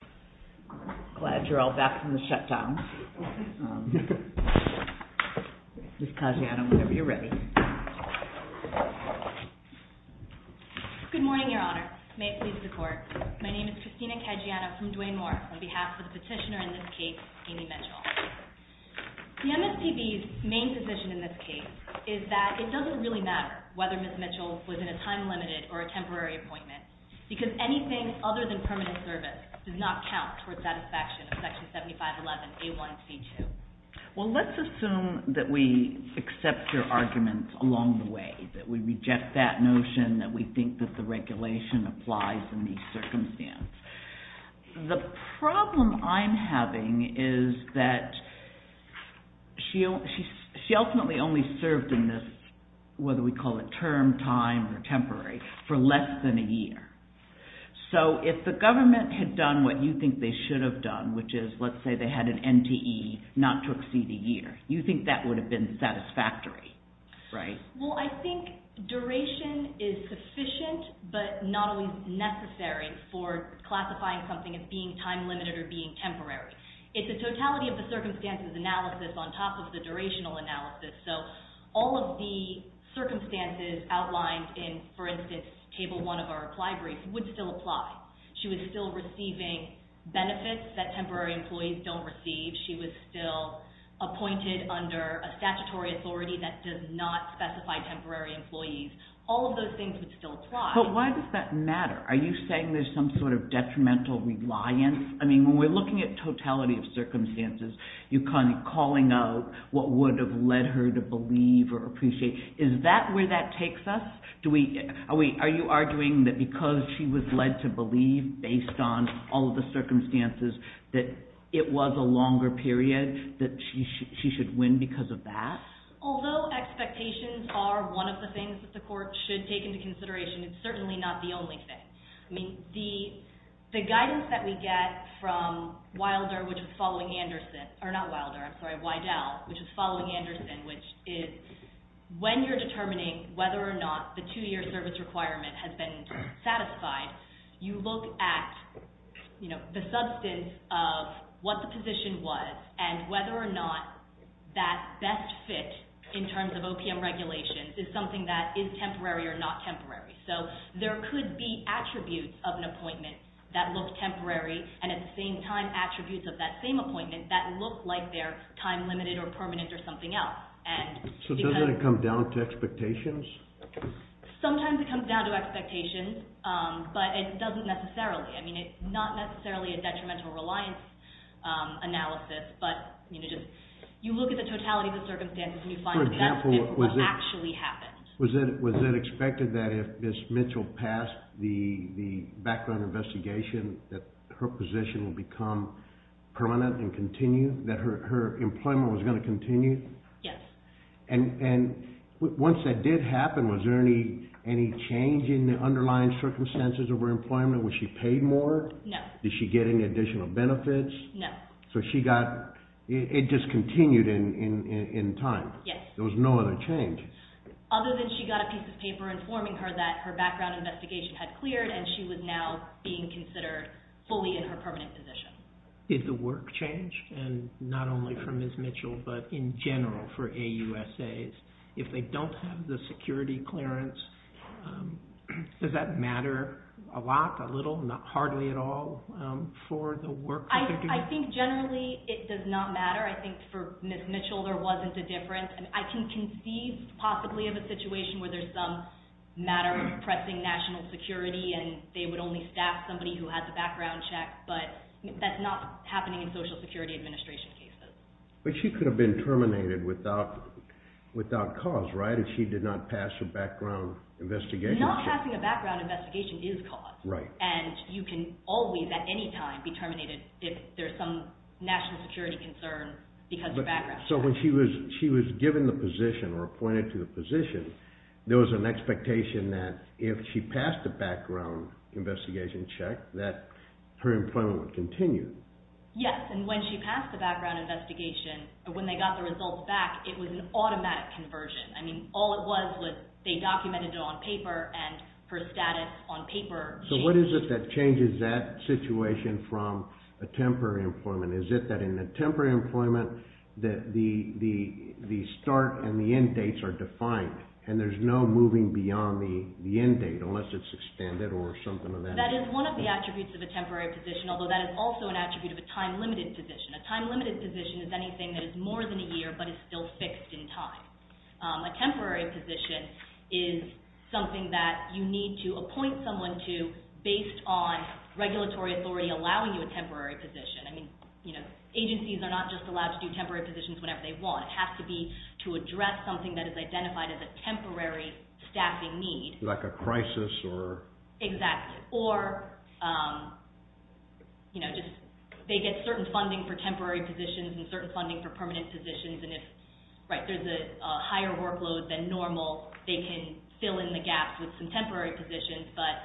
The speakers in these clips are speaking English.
The MSPB's main position in this case is that it doesn't really matter whether Ms. Mitchell was in a time-limited or a temporary appointment, because anything other than permanent service does not count towards satisfaction of Section 7511A1C2. Well, let's assume that we accept your arguments along the way, that we reject that notion that we think that the regulation applies in these circumstances. The problem I'm having is that she ultimately only served in this, whether we call it term, time, or temporary, for less than a year. So if the government had done what you think they should have done, which is, let's say they had an NTE not to exceed a year, you think that would have been satisfactory, right? Well, I think duration is sufficient, but not always necessary for classifying something as being time-limited or being temporary. It's a totality of the circumstances analysis on top of the durational analysis, so all of the circumstances outlined in, for instance, Table 1 of our applied brief would still apply. She was still receiving benefits that temporary employees don't receive. She was still appointed under a statutory authority that does not specify temporary employees. All of those things would still apply. But why does that matter? Are you saying there's some sort of detrimental reliance? I mean, when we're looking at totality of circumstances, you're kind of calling out what would have led her to believe or appreciate. Is that where that takes us? Are you arguing that because she was led to believe based on all of the circumstances that it was a longer period that she should win because of that? Although expectations are one of the things that the court should take into consideration, it's certainly not the only thing. I mean, the guidance that we get from WIDEL, which is following Anderson, which is when you're determining whether or not the two-year service requirement has been satisfied, you look at the substance of what the position was and whether or not that best fit in terms of OPM regulations is something that is temporary or not temporary. So there could be attributes of an appointment that look temporary and at the same time attributes of that same appointment that look like they're time-limited or permanent or something else. So doesn't it come down to expectations? Sometimes it comes down to expectations, but it doesn't necessarily. I mean, it's not necessarily a detrimental reliance analysis, but you look at the totality of the circumstances and you find that that's what actually happened. Was it expected that if Ms. Mitchell passed the background investigation that her position would become permanent and continue, that her employment was going to continue? Yes. And once that did happen, was there any change in the underlying circumstances of her employment? Was she paid more? No. Did she get any additional benefits? No. So it just continued in time? Yes. There was no other change? Other than she got a piece of paper informing her that her background investigation had cleared and she was now being considered fully in her permanent position. Did the work change, and not only for Ms. Mitchell, but in general for AUSAs? If they don't have the security clearance, does that matter a lot, a little, hardly at all for the work that they're doing? I think generally it does not matter. I think for Ms. Mitchell there wasn't a difference. I can conceive, possibly, of a situation where there's some matter of pressing national security and they would only staff somebody who has a background check, but that's not happening in Social Security Administration cases. But she could have been terminated without cause, right, if she did not pass her background investigation? Not passing a background investigation is cause. Right. And you can always, at any time, be terminated if there's some national security concern because of your background. So when she was given the position or appointed to the position, there was an expectation that if she passed a background investigation check, that her employment would continue? Yes, and when she passed the background investigation, when they got the results back, it was an automatic conversion. I mean, all it was was they documented it on paper and her status on paper changed. So what is it that changes that situation from a temporary employment? Is it that in a temporary employment that the start and the end dates are defined and there's no moving beyond the end date unless it's extended or something of that nature? That is one of the attributes of a temporary position, although that is also an attribute of a time-limited position. A time-limited position is anything that is more than a year but is still fixed in time. A temporary position is something that you need to appoint someone to based on regulatory authority allowing you a temporary position. I mean, agencies are not just allowed to do temporary positions whenever they want. It has to be to address something that is identified as a temporary staffing need. Like a crisis? Exactly. Or they get certain funding for temporary positions and certain funding for permanent positions, and if there's a higher workload than normal, they can fill in the gaps with some temporary positions, but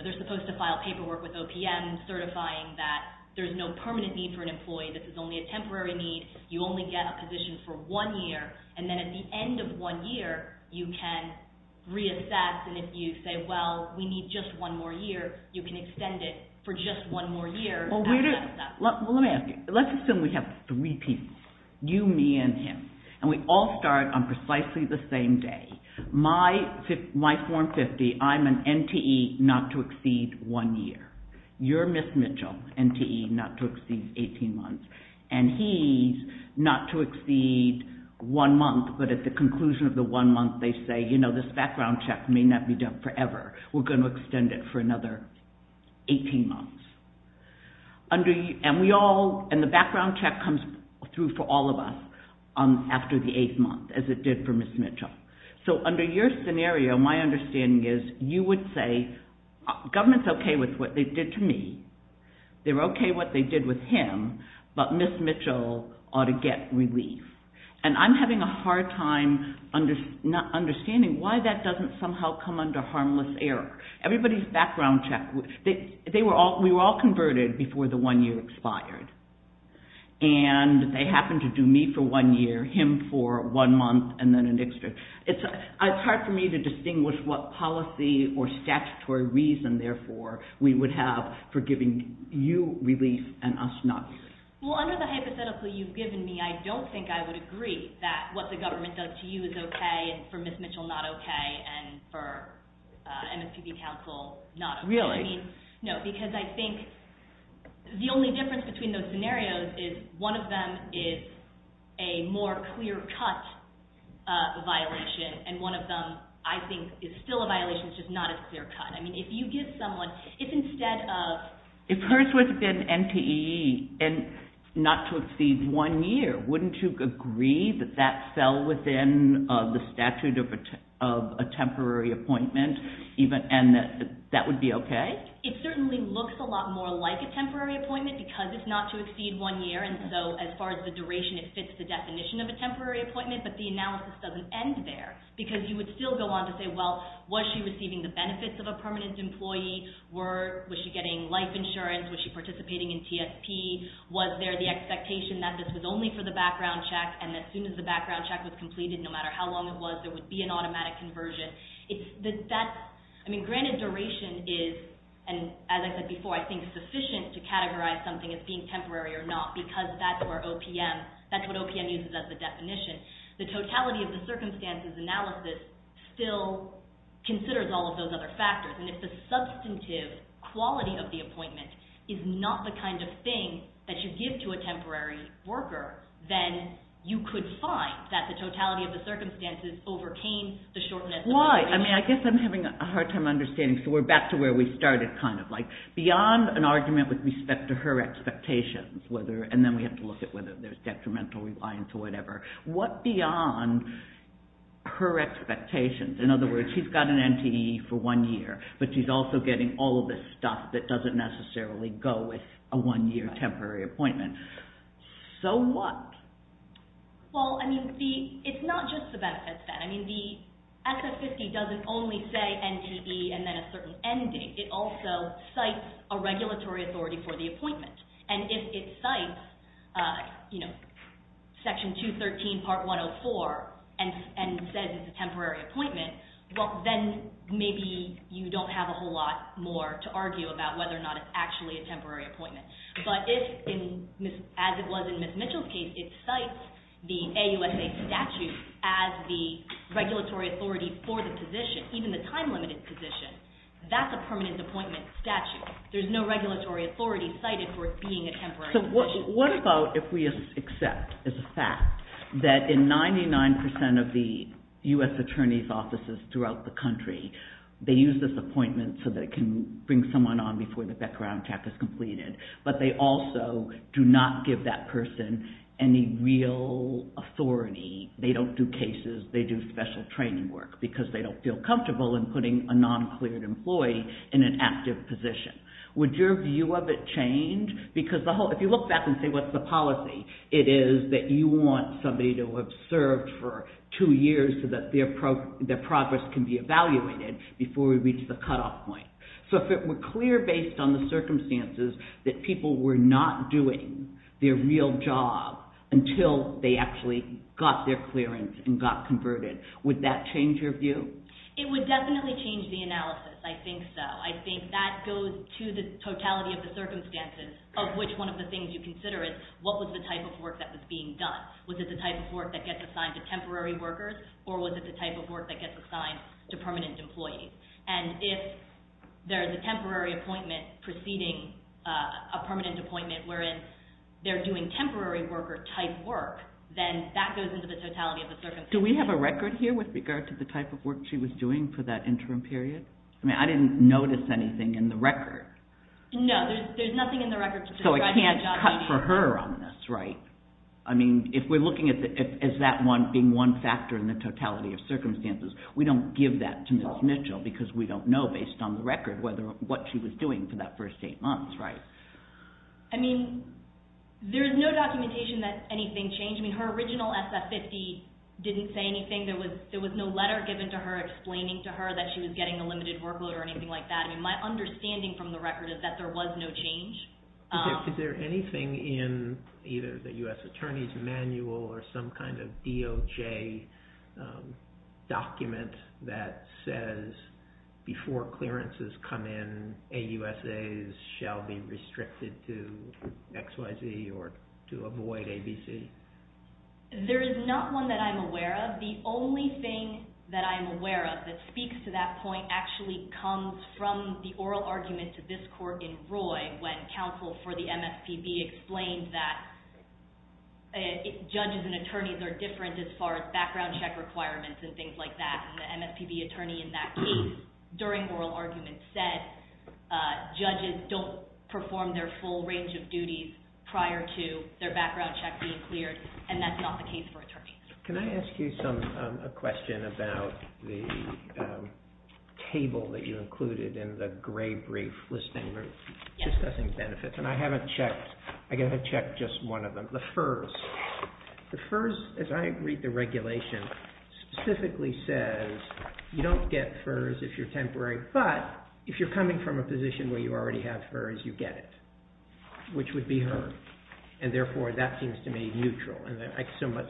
they're supposed to file paperwork with OPM certifying that there's no permanent need for an employee. This is only a temporary need. You only get a position for one year, and then at the end of one year, you can reassess, and if you say, well, we need just one more year, you can extend it for just one more year. Well, let me ask you. Let's assume we have three people, you, me, and him, and we all start on precisely the same day. My form 50, I'm an NTE not to exceed one year. You're Ms. Mitchell, NTE not to exceed 18 months, and he's not to exceed one month, but at the conclusion of the one month, they say, you know, this background check may not be done forever. We're going to extend it for another 18 months. And the background check comes through for all of us after the eighth month, as it did for Ms. Mitchell. So under your scenario, my understanding is you would say, government's okay with what they did to me. They're okay what they did with him, but Ms. Mitchell ought to get relief. And I'm having a hard time understanding why that doesn't somehow come under harmless error. Everybody's background check, we were all converted before the one year expired, and they happened to do me for one year, him for one month, and then an extra. It's hard for me to distinguish what policy or statutory reason, therefore, we would have for giving you relief and us not. Well, under the hypothetical you've given me, I don't think I would agree that what the government does to you is okay, and for Ms. Mitchell not okay, and for MSPB counsel not okay. Really? I mean, no, because I think the only difference between those scenarios is one of them is a more clear-cut violation, and one of them, I think, is still a violation, it's just not as clear-cut. I mean, if you give someone, if instead of... If hers would have been NTE, and not to exceed one year, wouldn't you agree that that fell within the statute of a temporary appointment, and that that would be okay? It certainly looks a lot more like a temporary appointment because it's not to exceed one year, and so as far as the duration, it fits the definition of a temporary appointment, but the analysis doesn't end there, because you would still go on to say, well, was she receiving the benefits of a permanent employee? Was she getting life insurance? Was she participating in TSP? Was there the expectation that this was only for the background check, and as soon as the background check was completed, no matter how long it was, there would be an automatic conversion? I mean, granted duration is, as I said before, I think sufficient to categorize something as being temporary or not, because that's what OPM uses as the definition. The totality of the circumstances analysis still considers all of those other factors, and if the substantive quality of the appointment is not the kind of thing that you give to a temporary worker, then you could find that the totality of the circumstances overcame the shortness of… Why? I mean, I guess I'm having a hard time understanding, so we're back to where we started, kind of, like beyond an argument with respect to her expectations, and then we have to look at whether there's detrimental reliance or whatever. What beyond her expectations? In other words, she's got an NTE for one year, but she's also getting all of this stuff that doesn't necessarily go with a one-year temporary appointment. So what? Well, I mean, it's not just the benefits then. I mean, the SF-50 doesn't only say NTE and then a certain ending. It also cites a regulatory authority for the appointment, and if it cites, you know, Section 213, Part 104, and says it's a temporary appointment, well, then maybe you don't have a whole lot more to argue about whether or not it's actually a temporary appointment. But if, as it was in Ms. Mitchell's case, it cites the AUSA statute as the regulatory authority for the position, even the time-limited position, that's a permanent appointment statute. There's no regulatory authority cited for it being a temporary position. So what about if we accept as a fact that in 99% of the U.S. attorney's offices throughout the country, they use this appointment so that it can bring someone on before the background check is completed, but they also do not give that person any real authority. They don't do cases. They do special training work because they don't feel comfortable in putting a non-cleared employee in an active position. Would your view of it change? Because if you look back and say, what's the policy? It is that you want somebody to have served for two years so that their progress can be evaluated before we reach the cutoff point. So if it were clear based on the circumstances that people were not doing their real job until they actually got their clearance and got converted, would that change your view? It would definitely change the analysis. I think so. I think that goes to the totality of the circumstances of which one of the things you consider is, what was the type of work that was being done? Was it the type of work that gets assigned to temporary workers, or was it the type of work that gets assigned to permanent employees? And if there's a temporary appointment preceding a permanent appointment, whereas they're doing temporary worker type work, then that goes into the totality of the circumstances. Do we have a record here with regard to the type of work she was doing for that interim period? I mean, I didn't notice anything in the record. No, there's nothing in the record. So I can't cut for her on this, right? I mean, if we're looking at that one being one factor in the totality of circumstances, we don't give that to Ms. Mitchell because we don't know based on the record what she was doing for that first eight months, right? I mean, there is no documentation that anything changed. I mean, her original SF-50 didn't say anything. There was no letter given to her explaining to her that she was getting a limited workload or anything like that. I mean, my understanding from the record is that there was no change. Is there anything in either the U.S. Attorney's Manual or some kind of DOJ document that says before clearances come in, AUSAs shall be restricted to XYZ or to avoid ABC? There is not one that I'm aware of. The only thing that I'm aware of that speaks to that point actually comes from the oral argument to this court in Roy when counsel for the MSPB explained that judges and attorneys are different as far as background check requirements and things like that. And the MSPB attorney in that case during oral argument said judges don't perform their full range of duties prior to their background check being cleared, and that's not the case for attorneys. Can I ask you a question about the table that you included in the gray brief listing of assessing benefits? And I haven't checked. The FERS, as I read the regulation, specifically says you don't get FERS if you're temporary, but if you're coming from a position where you already have FERS, you get it, which would be her. And therefore, that seems to me neutral.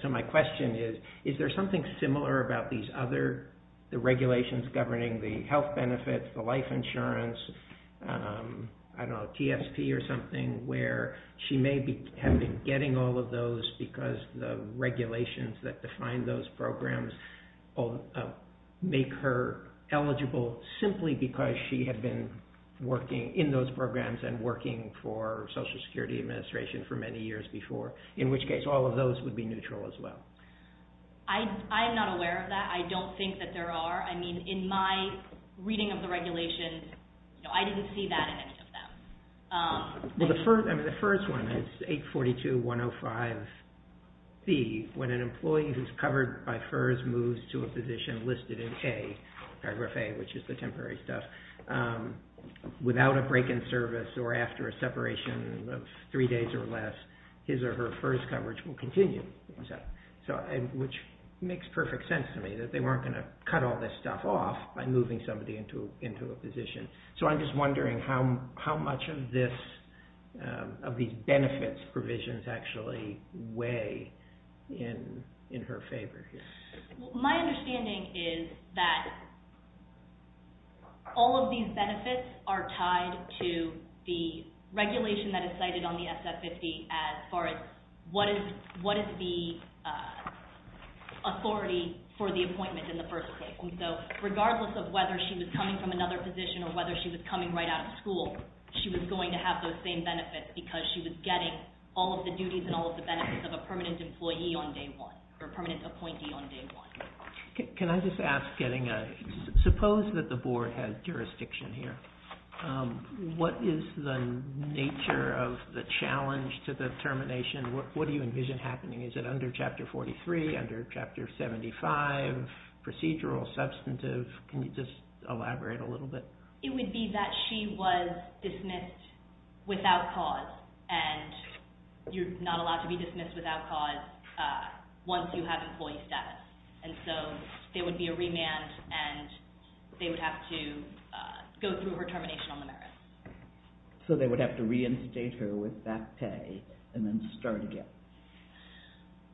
So my question is, is there something similar about these other regulations governing the health benefits, the life insurance, I don't know, TSP or something, where she may have been getting all of those because the regulations that define those programs make her eligible simply because she had been working in those programs and working for Social Security Administration for many years before, in which case all of those would be neutral as well. I'm not aware of that. I don't think that there are. I mean, in my reading of the regulations, I didn't see that in any of them. Well, the FERS one is 842.105b. When an employee who's covered by FERS moves to a position listed in paragraph A, which is the temporary stuff, without a break in service or after a separation of three days or less, his or her FERS coverage will continue, which makes perfect sense to me, that they weren't going to cut all this stuff off by moving somebody into a position. So I'm just wondering how much of these benefits provisions actually weigh in her favor here. My understanding is that all of these benefits are tied to the regulation that is cited on the SF-50 as far as what is the authority for the appointment in the first place. So regardless of whether she was coming from another position or whether she was coming right out of school, she was going to have those same benefits because she was getting all of the duties and all of the benefits of a permanent employee on day one or a permanent appointee on day one. Can I just ask, suppose that the Board had jurisdiction here. What is the nature of the challenge to the termination? What do you envision happening? Is it under Chapter 43, under Chapter 75, procedural, substantive? Can you just elaborate a little bit? It would be that she was dismissed without cause, and you're not allowed to be dismissed without cause once you have employee status. And so there would be a remand and they would have to go through her termination on the merits. So they would have to reinstate her with back pay and then start again?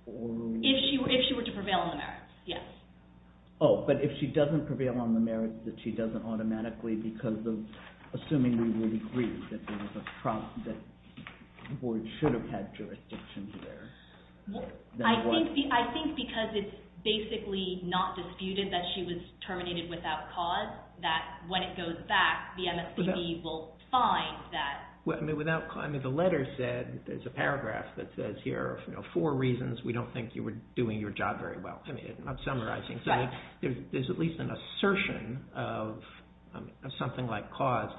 If she were to prevail on the merits, yes. Oh, but if she doesn't prevail on the merits that she doesn't automatically because of assuming we would agree that the Board should have had jurisdiction here. I think because it's basically not disputed that she was terminated without cause, that when it goes back, the MSCB will find that. The letter said, there's a paragraph that says here, for reasons we don't think you were doing your job very well. I'm not summarizing. There's at least an assertion of something like cause.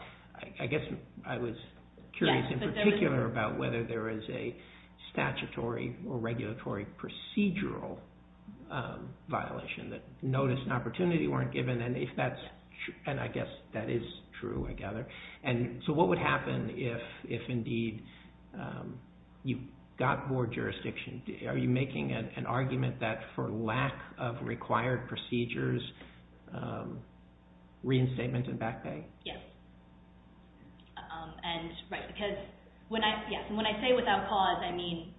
I guess I was curious in particular about whether there is a statutory or regulatory procedural violation that notice and opportunity weren't given. And I guess that is true, I gather. And so what would happen if indeed you got Board jurisdiction? Are you making an argument that for lack of required procedures, reinstatement and back pay? Yes. And when I say without cause, I mean,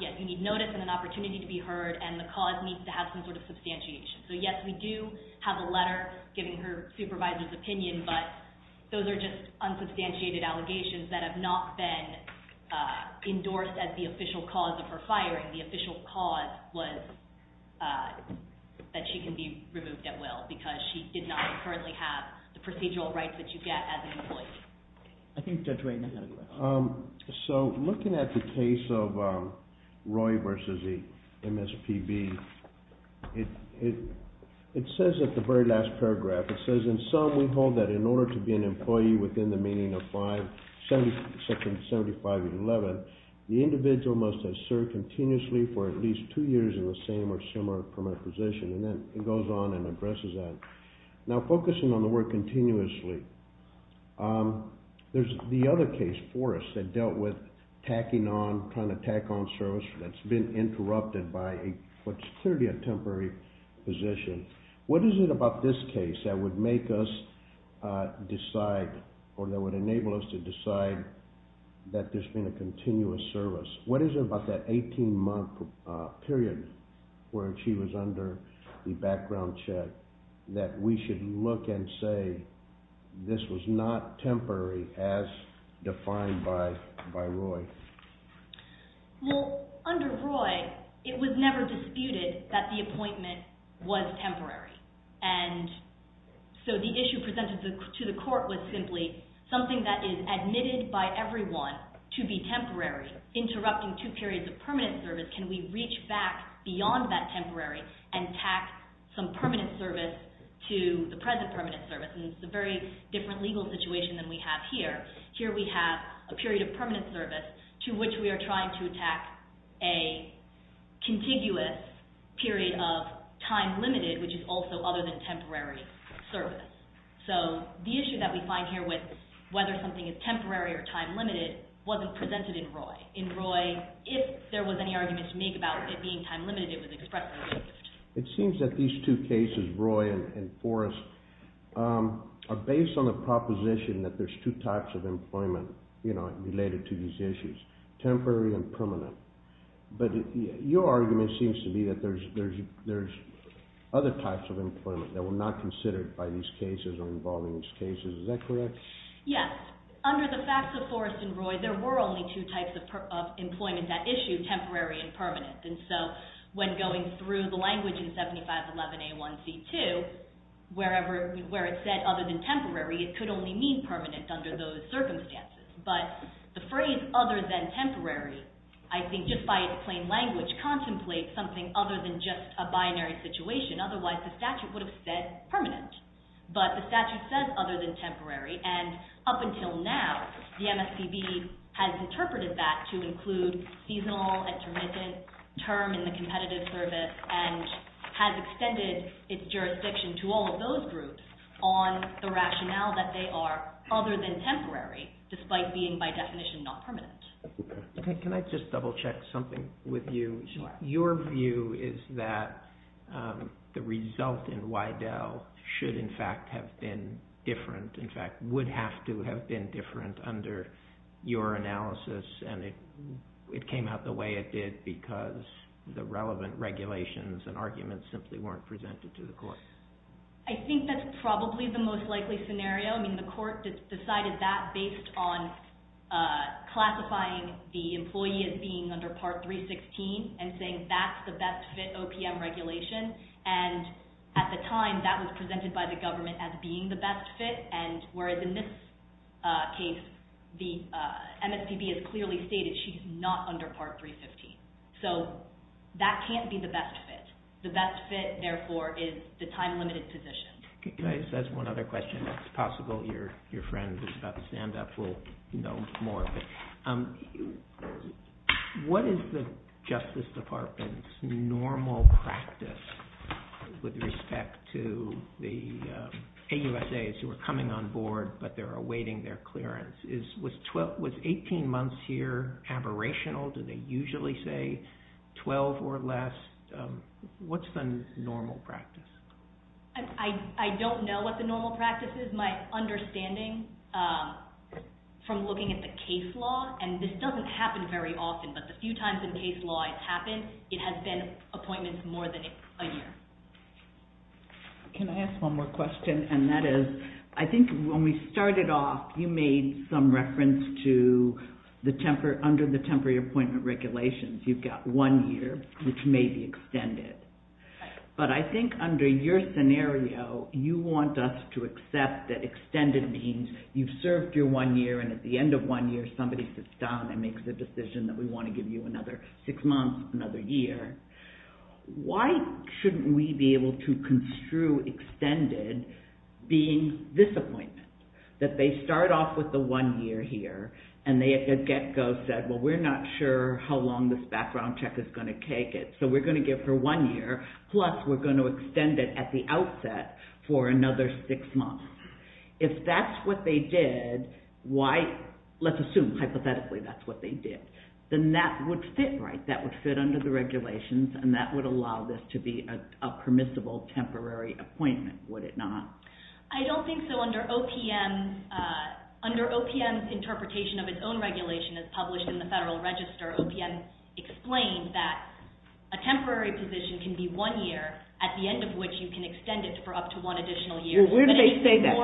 yes, you need notice and an opportunity to be heard, and the cause needs to have some sort of substantiation. So yes, we do have a letter giving her supervisor's opinion, but those are just unsubstantiated allegations that have not been endorsed as the official cause of her firing. The official cause was that she can be removed at will because she did not currently have the procedural rights that you get as an employee. I think Judge Waden had a question. So looking at the case of Roy versus the MSPB, it says at the very last paragraph, it says, in sum, we hold that in order to be an employee within the meaning of Section 75-11, the individual must have served continuously for at least two years in the same or similar position. And then it goes on and addresses that. Now focusing on the word continuously, there's the other case, Forrest, that dealt with tacking on, trying to tack on service that's been interrupted by what's clearly a temporary position. What is it about this case that would make us decide or that would enable us to decide that there's been a continuous service? What is it about that 18-month period where she was under the background check that we should look and say this was not temporary as defined by Roy? Well, under Roy, it was never disputed that the appointment was temporary. And so the issue presented to the court was simply something that is admitted by everyone to be temporary, interrupting two periods of permanent service. Can we reach back beyond that temporary and tack some permanent service to the present permanent service? And it's a very different legal situation than we have here. Here we have a period of permanent service to which we are trying to attack a contiguous period of time limited, which is also other than temporary service. So the issue that we find here with whether something is temporary or time limited wasn't presented in Roy. In Roy, if there was any argument to make about it being time limited, it was expressly removed. It seems that these two cases, Roy and Forrest, are based on the proposition that there's two types of employment related to these issues, temporary and permanent. But your argument seems to be that there's other types of employment that were not considered by these cases or involved in these cases. Is that correct? Yes. Under the facts of Forrest and Roy, there were only two types of employment at issue, temporary and permanent. And so when going through the language in 7511A1C2, where it said other than temporary, it could only mean permanent under those circumstances. But the phrase other than temporary, I think just by its plain language, contemplates something other than just a binary situation. Otherwise, the statute would have said permanent. But the statute says other than temporary, and up until now, the MSPB has interpreted that to include seasonal and permanent term in the competitive service and has extended its jurisdiction to all of those groups on the rationale that they are other than temporary, despite being, by definition, not permanent. Can I just double check something with you? Sure. Your view is that the result in Wydell should, in fact, have been different, in fact, would have to have been different under your analysis, and it came out the way it did because the relevant regulations and arguments simply weren't presented to the court. I think that's probably the most likely scenario. I mean, the court decided that based on classifying the employee as being under Part 316 and saying that's the best fit OPM regulation. And at the time, that was presented by the government as being the best fit, and whereas in this case, the MSPB has clearly stated she's not under Part 315. So that can't be the best fit. The best fit, therefore, is the time-limited position. That's one other question. If it's possible, your friend who's about to stand up will know more. What is the Justice Department's normal practice with respect to the AUSAs who are coming on board but they're awaiting their clearance? Was 18 months here aberrational? Do they usually say 12 or less? What's the normal practice? I don't know what the normal practice is. My understanding from looking at the case law, and this doesn't happen very often, but the few times the case law has happened, it has been appointments more than a year. Can I ask one more question, and that is I think when we started off, you made some reference to under the temporary appointment regulations, you've got one year, which may be extended. But I think under your scenario, you want us to accept that extended means you've served your one year, and at the end of one year, somebody sits down and makes a decision that we want to give you another six months, another year. Why shouldn't we be able to construe extended being this appointment, that they start off with the one year here, and they at the get-go said, well, we're not sure how long this background check is going to take, so we're going to give for one year, plus we're going to extend it at the outset for another six months. If that's what they did, let's assume hypothetically that's what they did, then that would fit right. That would fit under the regulations, and that would allow this to be a permissible temporary appointment, would it not? I don't think so. Under OPM's interpretation of its own regulation, as published in the Federal Register, OPM explained that a temporary position can be one year, at the end of which you can extend it for up to one additional year. Where do they say that?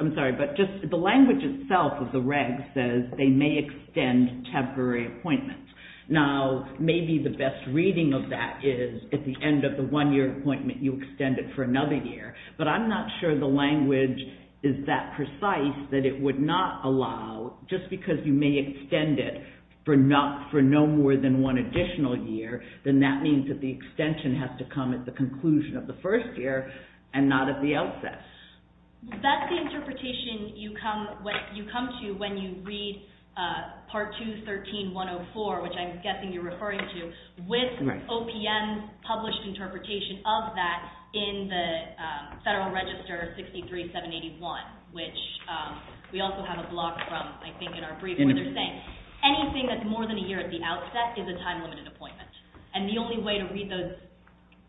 I'm sorry, but the language itself of the reg says they may extend temporary appointments. Now, maybe the best reading of that is at the end of the one-year appointment, you extend it for another year. But I'm not sure the language is that precise that it would not allow, just because you may extend it for no more than one additional year, then that means that the extension has to come at the conclusion of the first year and not at the outset. That's the interpretation you come to when you read Part 213.104, which I'm guessing you're referring to. With OPM's published interpretation of that in the Federal Register 63781, which we also have a block from, I think, in our briefing, they're saying anything that's more than a year at the outset is a time-limited appointment. And the only way to read those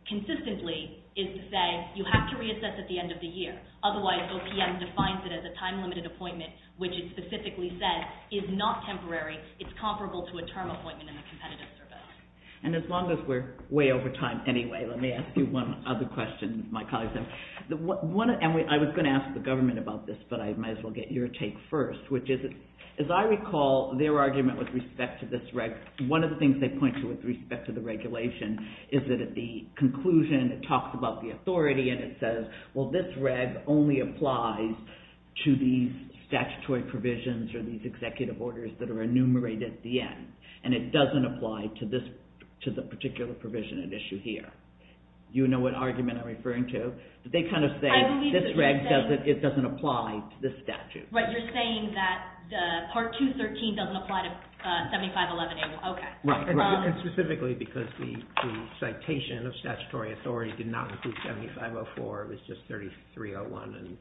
consistently is to say, you have to reassess at the end of the year. Otherwise, OPM defines it as a time-limited appointment, which it specifically says is not temporary, it's comparable to a term appointment in the Competitive Service. And as long as we're way over time anyway, let me ask you one other question, my colleagues. I was going to ask the government about this, but I might as well get your take first, which is, as I recall, their argument with respect to this reg, one of the things they point to with respect to the regulation is that at the conclusion it talks about the authority and it says, well, this reg only applies to these statutory provisions or these executive regulations that are enumerated at the end, and it doesn't apply to the particular provision at issue here. Do you know what argument I'm referring to? They kind of say this reg doesn't apply to this statute. Right, you're saying that Part 213 doesn't apply to 7511A. Right, and specifically because the citation of statutory authority did not include 7504, it was just 3301 and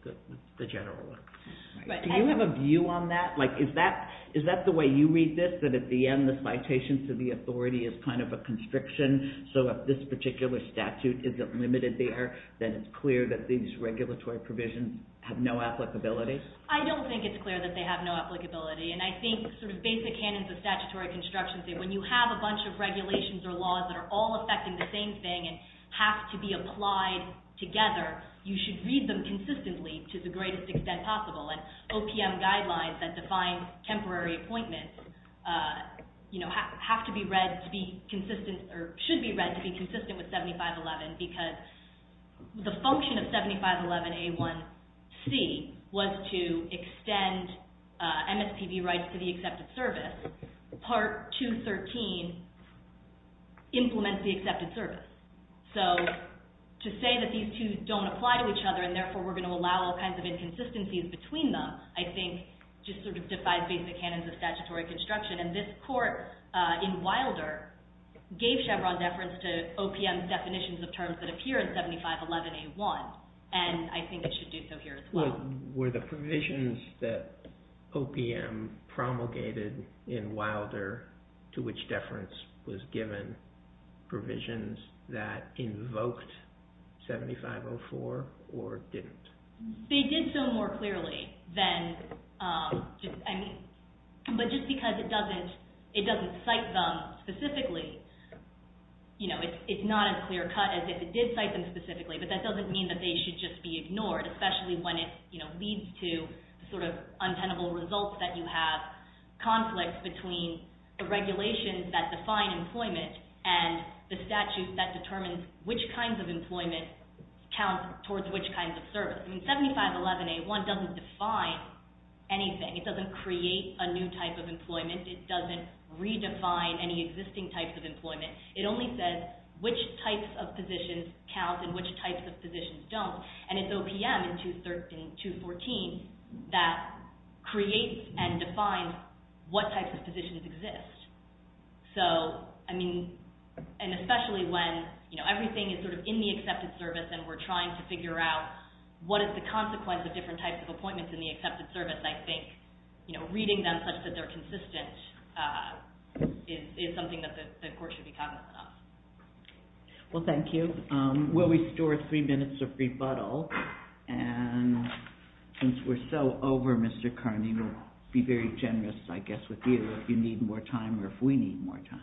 the general one. Do you have a view on that? Like, is that the way you read this, that at the end the citation to the authority is kind of a constriction, so if this particular statute isn't limited there, then it's clear that these regulatory provisions have no applicability? I don't think it's clear that they have no applicability, and I think sort of basic canons of statutory construction say when you have a bunch of regulations or laws that are all affecting the same thing and have to be applied together, you should read them consistently to the greatest extent possible. And OPM guidelines that define temporary appointment, you know, have to be read to be consistent or should be read to be consistent with 7511 because the function of 7511A1C was to extend MSPB rights to the accepted service. Part 213 implements the accepted service. So to say that these two don't apply to each other and therefore we're going to allow all kinds of inconsistencies between them, I think, just sort of defies basic canons of statutory construction. And this court in Wilder gave Chevron deference to OPM's definitions of terms that appear in 7511A1, and I think it should do so here as well. Were the provisions that OPM promulgated in Wilder to which deference was They did so more clearly than, I mean, but just because it doesn't cite them specifically, you know, it's not as clear cut as if it did cite them specifically, but that doesn't mean that they should just be ignored, especially when it, you know, leads to sort of untenable results that you have, conflicts between the regulations that define employment and the statute that determines which kinds of employment count towards which kinds of service. I mean, 7511A1 doesn't define anything. It doesn't create a new type of employment. It doesn't redefine any existing types of employment. It only says which types of positions count and which types of positions don't. And it's OPM in 214 that creates and defines what types of positions exist. So, I mean, and especially when, you know, everything is sort of in the accepted service and we're trying to figure out what is the consequence of different types of appointments in the accepted service, I think, you know, reading them such that they're consistent is something that the court should be cognizant of. Well, thank you. We'll restore three minutes of rebuttal. And since we're so over, Mr. Carney, we'll be very generous, I guess, with you if you need more time or if we need more time.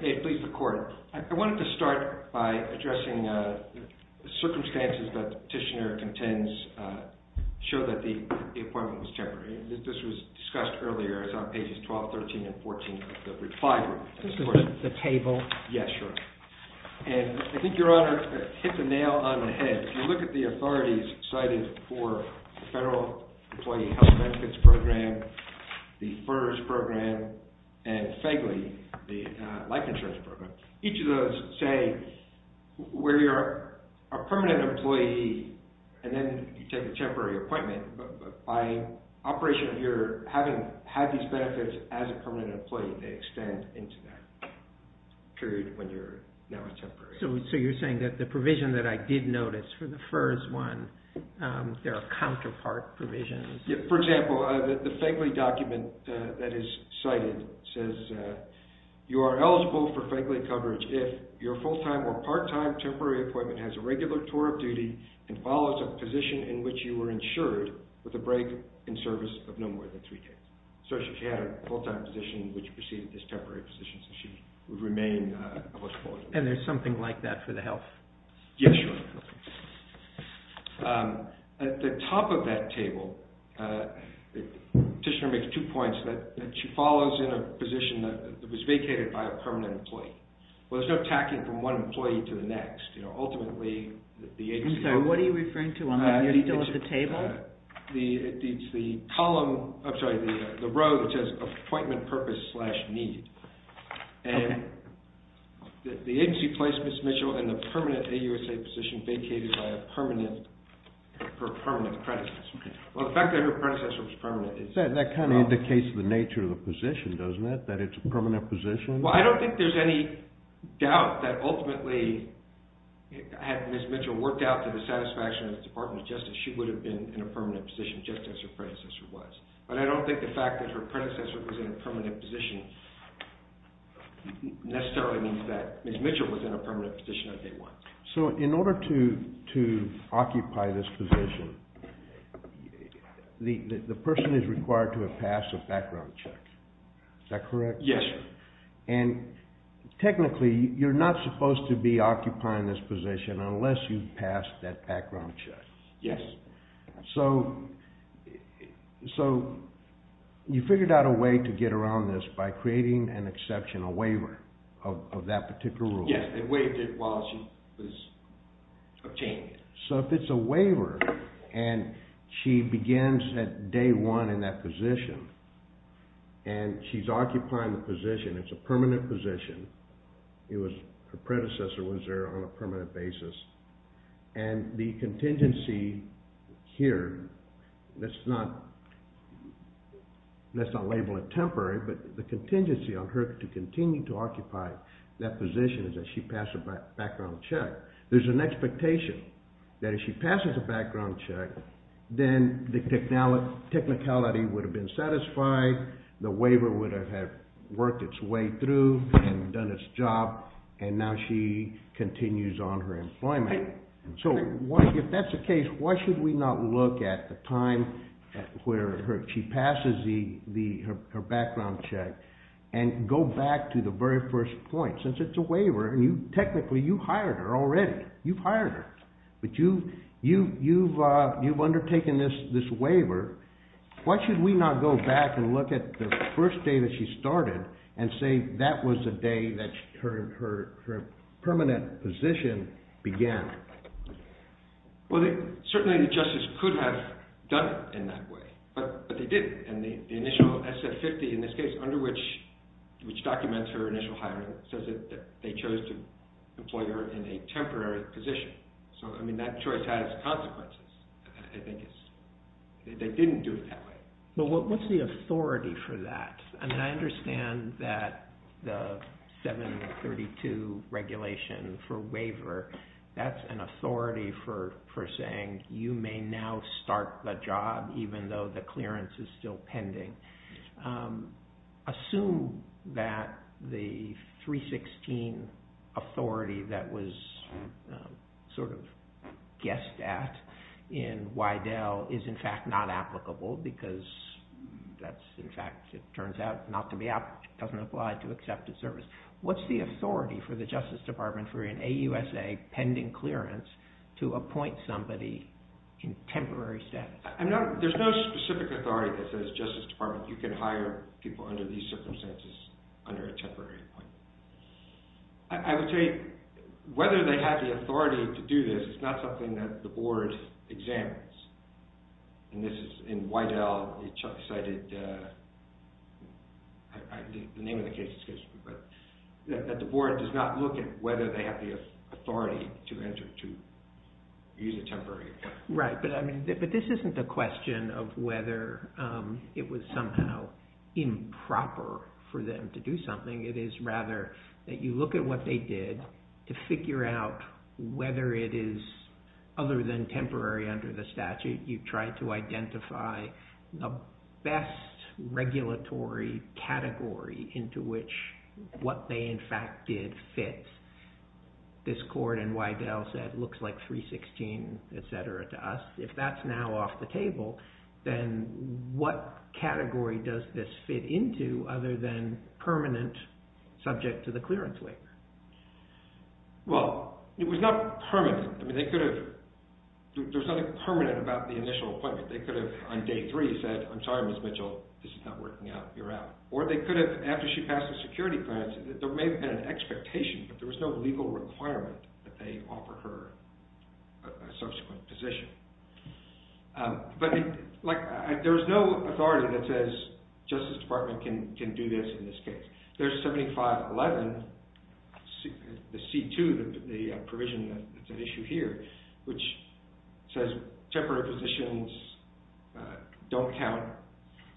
Hey, please record. I wanted to start by addressing the circumstances that the petitioner contends show that the appointment was temporary. This was discussed earlier. It's on pages 12, 13, and 14 of the reply room. This is the table. Yeah, sure. And I think your Honor hit the nail on the head. If you look at the authorities cited for the Federal Employee Health Benefits Program, the FERS Program, and FEGLI, the Life Insurance Program, each of those say where you're a permanent employee and then you take a temporary appointment, but by operation of your having had these benefits as a So you're saying that the provision that I did notice for the FERS one, there are counterpart provisions. For example, the FEGLI document that is cited says you are eligible for FEGLI coverage if your full-time or part-time temporary appointment has a regular tour of duty and follows a position in which you were insured with a break in service of no more than three days. So she had a full-time position which preceded this temporary position, so she would remain eligible. And there's something like that for the health? Yeah, sure. At the top of that table, Petitioner makes two points that she follows in a position that was vacated by a permanent employee. Well, there's no tacking from one employee to the next. Ultimately, the agency... I'm sorry, what are you referring to on the detail of the table? It's the column... I'm sorry, the row that says appointment purpose slash need. The agency placed Ms. Mitchell in the permanent AUSA position vacated by a permanent predecessor. Well, the fact that her predecessor was permanent is... That kind of indicates the nature of the position, doesn't it? That it's a permanent position? Well, I don't think there's any doubt that ultimately, had Ms. Mitchell worked out to the satisfaction of the Department of Health, she would have been in a permanent position just as her predecessor was. But I don't think the fact that her predecessor was in a permanent position necessarily means that Ms. Mitchell was in a permanent position on day one. So in order to occupy this position, the person is required to have passed a background check. Is that correct? Yes, sir. And technically, you're not supposed to be occupying this position unless you've passed that background check. Yes. So you figured out a way to get around this by creating an exception, a waiver of that particular rule. Yes. It waived it while she was obtaining it. So if it's a waiver and she begins at day one in that position and she's occupying the position, it's a permanent position. Her predecessor was there on a permanent basis. And the contingency here, let's not label it temporary, but the contingency on her to continue to occupy that position is that she passed a background check. There's an expectation that if she passes a background check, then the technicality would have been satisfied, the waiver would have worked its way through and done its job, and now she continues on her employment. So if that's the case, why should we not look at the time where she passes her background check and go back to the very first point? Since it's a waiver and technically you hired her already. You've hired her. But you've undertaken this waiver. Why should we not go back and look at the first day that she started and say that was the day that her permanent position began? Well, certainly the justice could have done it in that way, but they didn't. And the initial SF-50 in this case, which documents her initial hiring, says that they chose to employ her in a temporary position. So that choice has consequences, I think. They didn't do it that way. But what's the authority for that? I mean, I understand that the 732 regulation for waiver, that's an authority for saying you may now start the job, even though the clearance is still pending. Assume that the 316 authority that was sort of guessed at in Wydell is, in fact, not applicable because that's, in fact, it turns out not to be applicable. It doesn't apply to accepted service. What's the authority for the Justice Department for an AUSA pending clearance to appoint somebody in temporary status? There's no specific authority that says, Justice Department, you can hire people under these circumstances under a temporary appointment. I would say whether they have the authority to do this is not something that the board examines. And this is in Wydell, it cited the name of the case, but that the board does not look at whether they have the authority to enter to use a temporary appointment. Right. But this isn't a question of whether it was somehow improper for them to do something. It is rather that you look at what they did to figure out whether it is, other than temporary under the statute, you try to identify the best regulatory category into which what they, in fact, did fit. This court in Wydell said it looks like 316, et cetera, to us. If that's now off the table, then what category does this fit into other than permanent subject to the clearance waiver? Well, it was not permanent. There was nothing permanent about the initial appointment. They could have on day three said, I'm sorry, Ms. Mitchell, this is not working out, you're out. Or they could have, after she passed the security clearance, there may have been an expectation, but there was no legal requirement that they offer her a subsequent position. But there's no authority that says, Justice Department can do this in this case. There's 7511, the C2, the provision that's at issue here, which says temporary positions don't count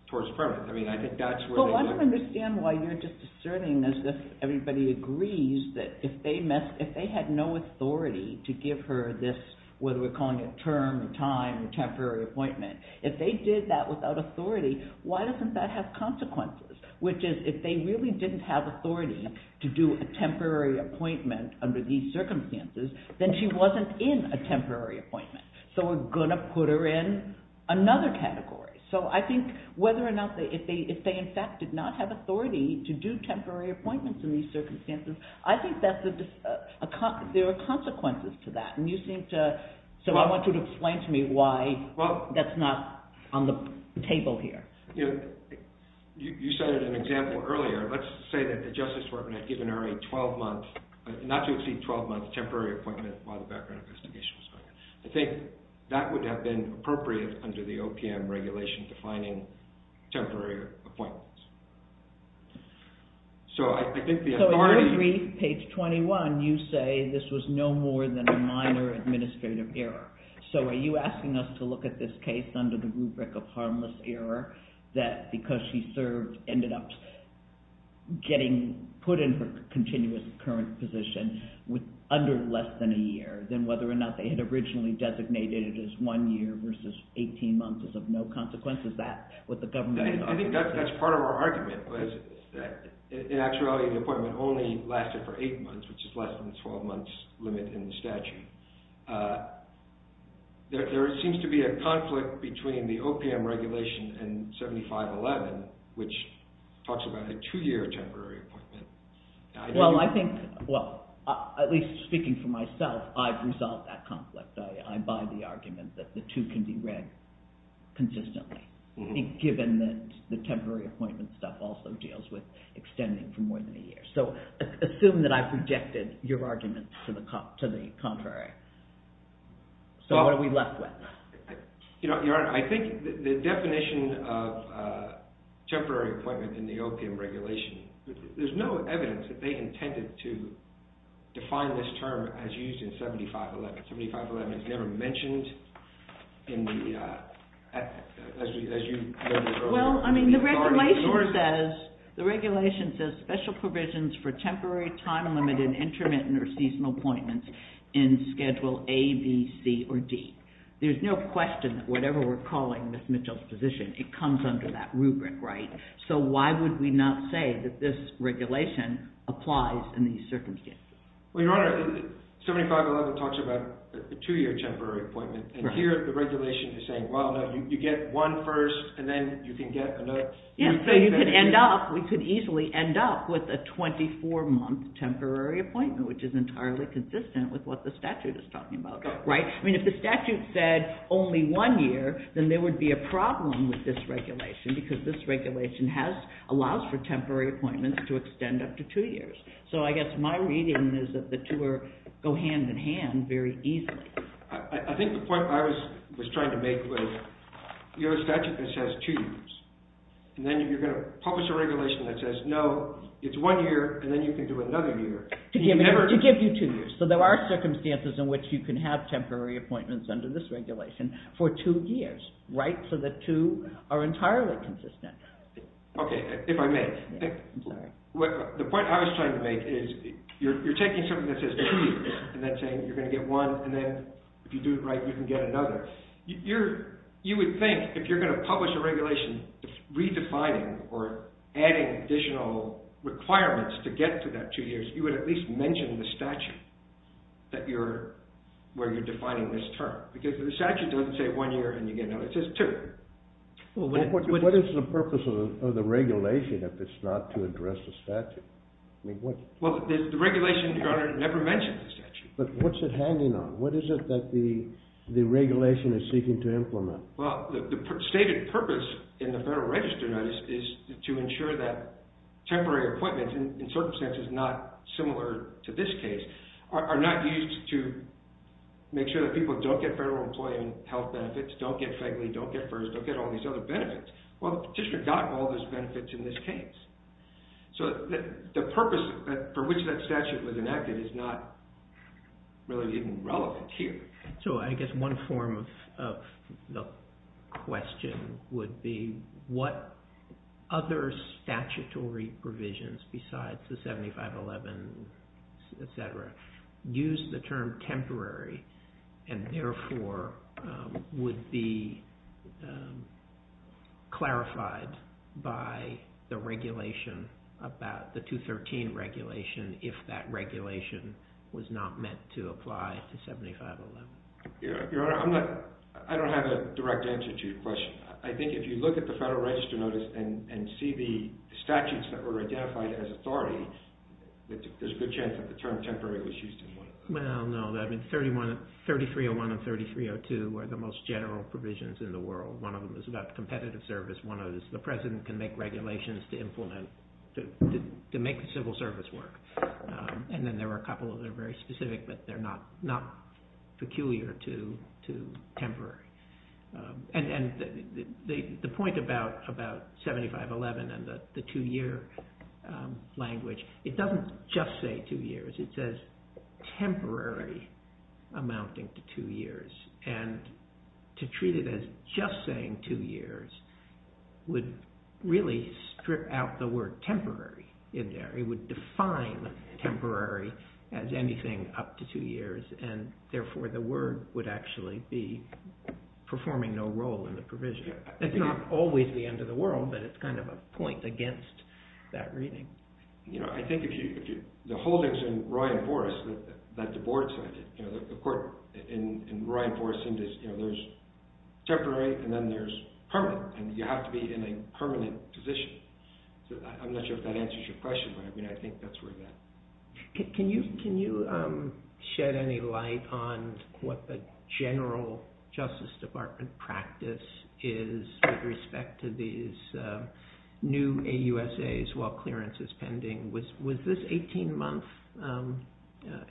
towards permanent. I mean, I think that's where they went. Well, I don't understand why you're just asserting as if everybody agrees that if they had no authority to give her this, whether we're calling it term or time or temporary appointment, if they did that without authority, why doesn't that have consequences? Which is, if they really didn't have authority to do a temporary appointment under these circumstances, then she wasn't in a temporary appointment. So we're going to put her in another category. So I think whether or not, if they in fact did not have authority to do temporary appointments in these circumstances, I think there are consequences to that. And you seem to, so I want you to explain to me why that's not on the table here. You cited an example earlier. Let's say that the Justice Department had given her a 12-month, not to exceed 12-month, temporary appointment while the background investigation was going on. I think that would have been appropriate under the OPM regulation defining temporary appointments. So I think the authority... So in your brief, page 21, you say this was no more than a minor administrative error. So are you asking us to look at this case under the rubric of harmless error, that because she served, ended up getting put in her continuous current position under less than a year, than whether or not they had originally designated it as one year versus 18 months is of no consequence? Is that what the government... I think that's part of our argument, is that in actuality the appointment only lasted for eight months, which is less than the 12-month limit in the statute. There seems to be a conflict between the OPM regulation and 7511, which talks about a two-year temporary appointment. Well, I think... Well, at least speaking for myself, I've resolved that conflict. I buy the argument that the two can be read consistently, given that the temporary appointment stuff also deals with extending for more than a year. So assume that I've rejected your argument to the contrary. So what are we left with? Your Honor, I think the definition of temporary appointment in the OPM regulation, there's no evidence that they intended to define this term as used in 7511. 7511 is never mentioned as you noted earlier. Well, I mean, the regulation says special provisions for temporary, time-limited, intermittent, or seasonal appointments in Schedule A, B, C, or D. There's no question that whatever we're calling Ms. Mitchell's position, it comes under that rubric, right? So why would we not say that this regulation applies in these circumstances? Well, Your Honor, 7511 talks about a two-year temporary appointment, and here the regulation is saying, well, you get one first, and then you can get another. Yeah, so you could end up, we could easily end up with a 24-month temporary appointment, which is entirely consistent with what the statute is talking about, right? I mean, if the statute said only one year, then there would be a problem with this regulation, because this regulation allows for temporary appointments to extend up to two years. So I guess my reading is that the two go hand-in-hand very easily. I think the point I was trying to make was, you have a statute that says two years, and then you're going to publish a regulation that says, no, it's one year, and then you can do another year. To give you two years. So there are circumstances in which you can have temporary appointments under this regulation for two years, right? So the two are entirely consistent. Okay, if I may. I'm sorry. The point I was trying to make is, you're taking something that says two years, and then saying you're going to get one, and then if you do it right, you can get another. You would think, if you're going to publish a regulation redefining or adding additional requirements to get to that two years, you would at least mention the statute where you're defining this term. Because the statute doesn't say one year and you get another. It says two. What is the purpose of the regulation if it's not to address the statute? Well, the regulation, Your Honor, never mentions the statute. But what's it hanging on? What is it that the regulation is seeking to implement? Well, the stated purpose in the Federal Register Notice is to ensure that temporary appointments, in circumstances not similar to this case, are not used to make sure that people don't get federal employment health benefits, don't get FEGLI, don't get FERS, don't get all these other benefits. Well, the petitioner got all those benefits in this case. So the purpose for which that statute was enacted is not really even relevant here. So I guess one form of the question would be what other statutory provisions besides the 7511, et cetera, use the term temporary and, therefore, would be clarified by the regulation, about the 213 regulation, if that regulation was not meant to apply to 7511. Your Honor, I don't have a direct answer to your question. I think if you look at the Federal Register Notice and see the statutes that were identified as authority, there's a good chance that the term temporary was used in one of them. Well, no. 3301 and 3302 are the most general provisions in the world. One of them is about competitive service. One of them is the president can make regulations to implement, to make the civil service work. And then there are a couple that are very specific, but they're not peculiar to temporary. And the point about 7511 and the two-year language, it doesn't just say two years. It says temporary amounting to two years. And to treat it as just saying two years would really strip out the word temporary in there. It would define temporary as anything up to two years, and, therefore, the word would actually be performing no role in the provision. It's not always the end of the world, but it's kind of a point against that reading. You know, I think the holdings in Roy and Boris, the court in Roy and Boris, there's temporary and then there's permanent, and you have to be in a permanent position. I'm not sure if that answers your question, but I think that's where we're at. Can you shed any light on what the general Justice Department practice is with respect to these new AUSAs while clearance is pending? Was this NTE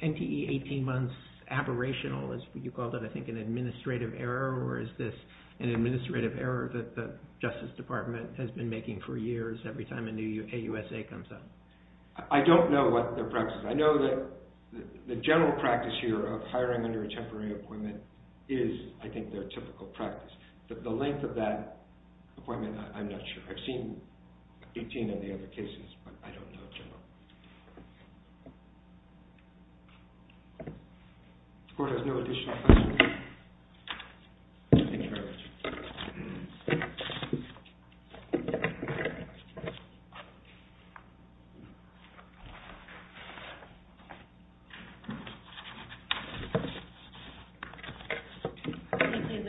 18 months aberrational, as you called it, I think an administrative error, or is this an administrative error that the Justice Department has been making for years every time a new AUSA comes up? I don't know what their practice is. I know that the general practice here of hiring under a temporary appointment is, I think, their typical practice. The length of that appointment, I'm not sure. I've seen 18 of the other cases, but I don't know a general one. The court has no additional questions? Thank you very much.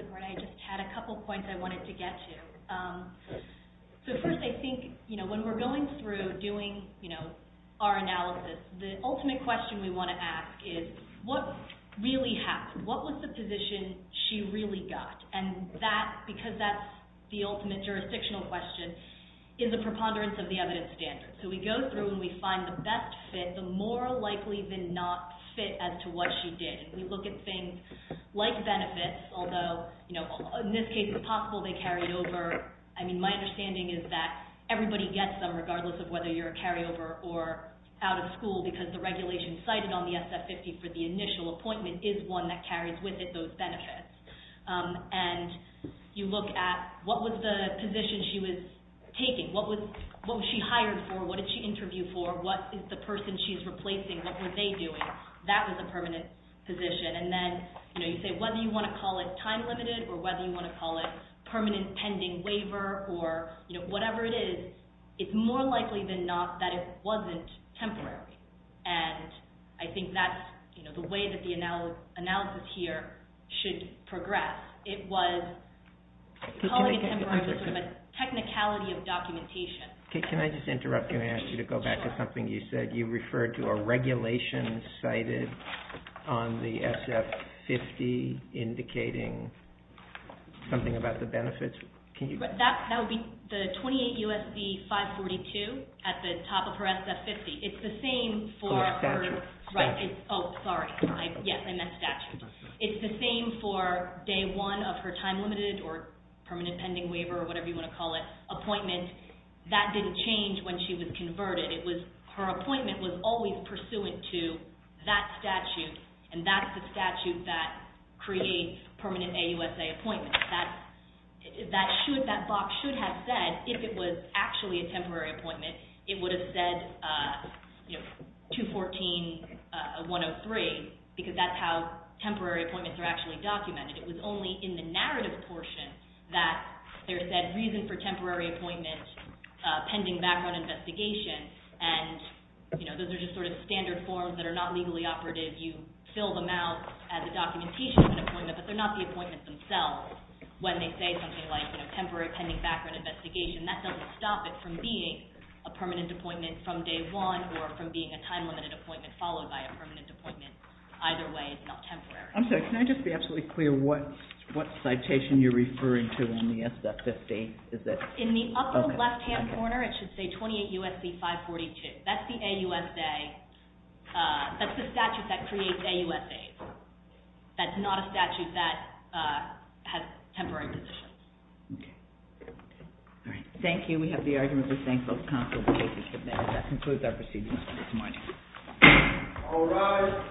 I just had a couple of points I wanted to get to. First, I think when we're going through doing our analysis, the ultimate question we want to ask is what really happened? What was the position she really got? Because that's the ultimate jurisdictional question, is the preponderance of the evidence standards. We go through and we find the best fit, the more likely than not fit as to what she did. We look at things like benefits, although in this case it's possible they carried over. My understanding is that everybody gets them, regardless of whether you're a carryover or out of school, because the regulation cited on the SF-50 for the initial appointment is one that carries with it those benefits. And you look at what was the position she was taking, what was she hired for, what did she interview for, what is the person she's replacing, what were they doing? That was a permanent position. And then you say whether you want to call it time-limited or whether you want to call it permanent pending waiver or whatever it is, it's more likely than not that it wasn't temporary. And I think that's the way that the analysis here should progress. It was probably temporary with sort of a technicality of documentation. Can I just interrupt you and ask you to go back to something you said? You said that you referred to a regulation cited on the SF-50 indicating something about the benefits. That would be the 28 U.S.C. 542 at the top of her SF-50. It's the same for her. Oh, statute. Oh, sorry. Yes, I meant statute. It's the same for day one of her time-limited or permanent pending waiver or whatever you want to call it appointment. That didn't change when she was converted. Her appointment was always pursuant to that statute, and that's the statute that creates permanent AUSA appointments. That box should have said, if it was actually a temporary appointment, it would have said 214-103 because that's how temporary appointments are actually documented. It was only in the narrative portion that there said, reason for temporary appointment pending background investigation, and those are just sort of standard forms that are not legally operative. You fill them out as a documentation of an appointment, but they're not the appointments themselves. When they say something like temporary pending background investigation, that doesn't stop it from being a permanent appointment from day one or from being a time-limited appointment followed by a permanent appointment. Either way, it's not temporary. I'm sorry, can I just be absolutely clear what citation you're referring to on the SF-58? In the upper left-hand corner, it should say 28 U.S.C. 542. That's the AUSA. That's the statute that creates AUSAs. That's not a statute that has temporary positions. Okay. Thank you. We have the argument to thank both counsels. That concludes our proceedings for this morning. All rise.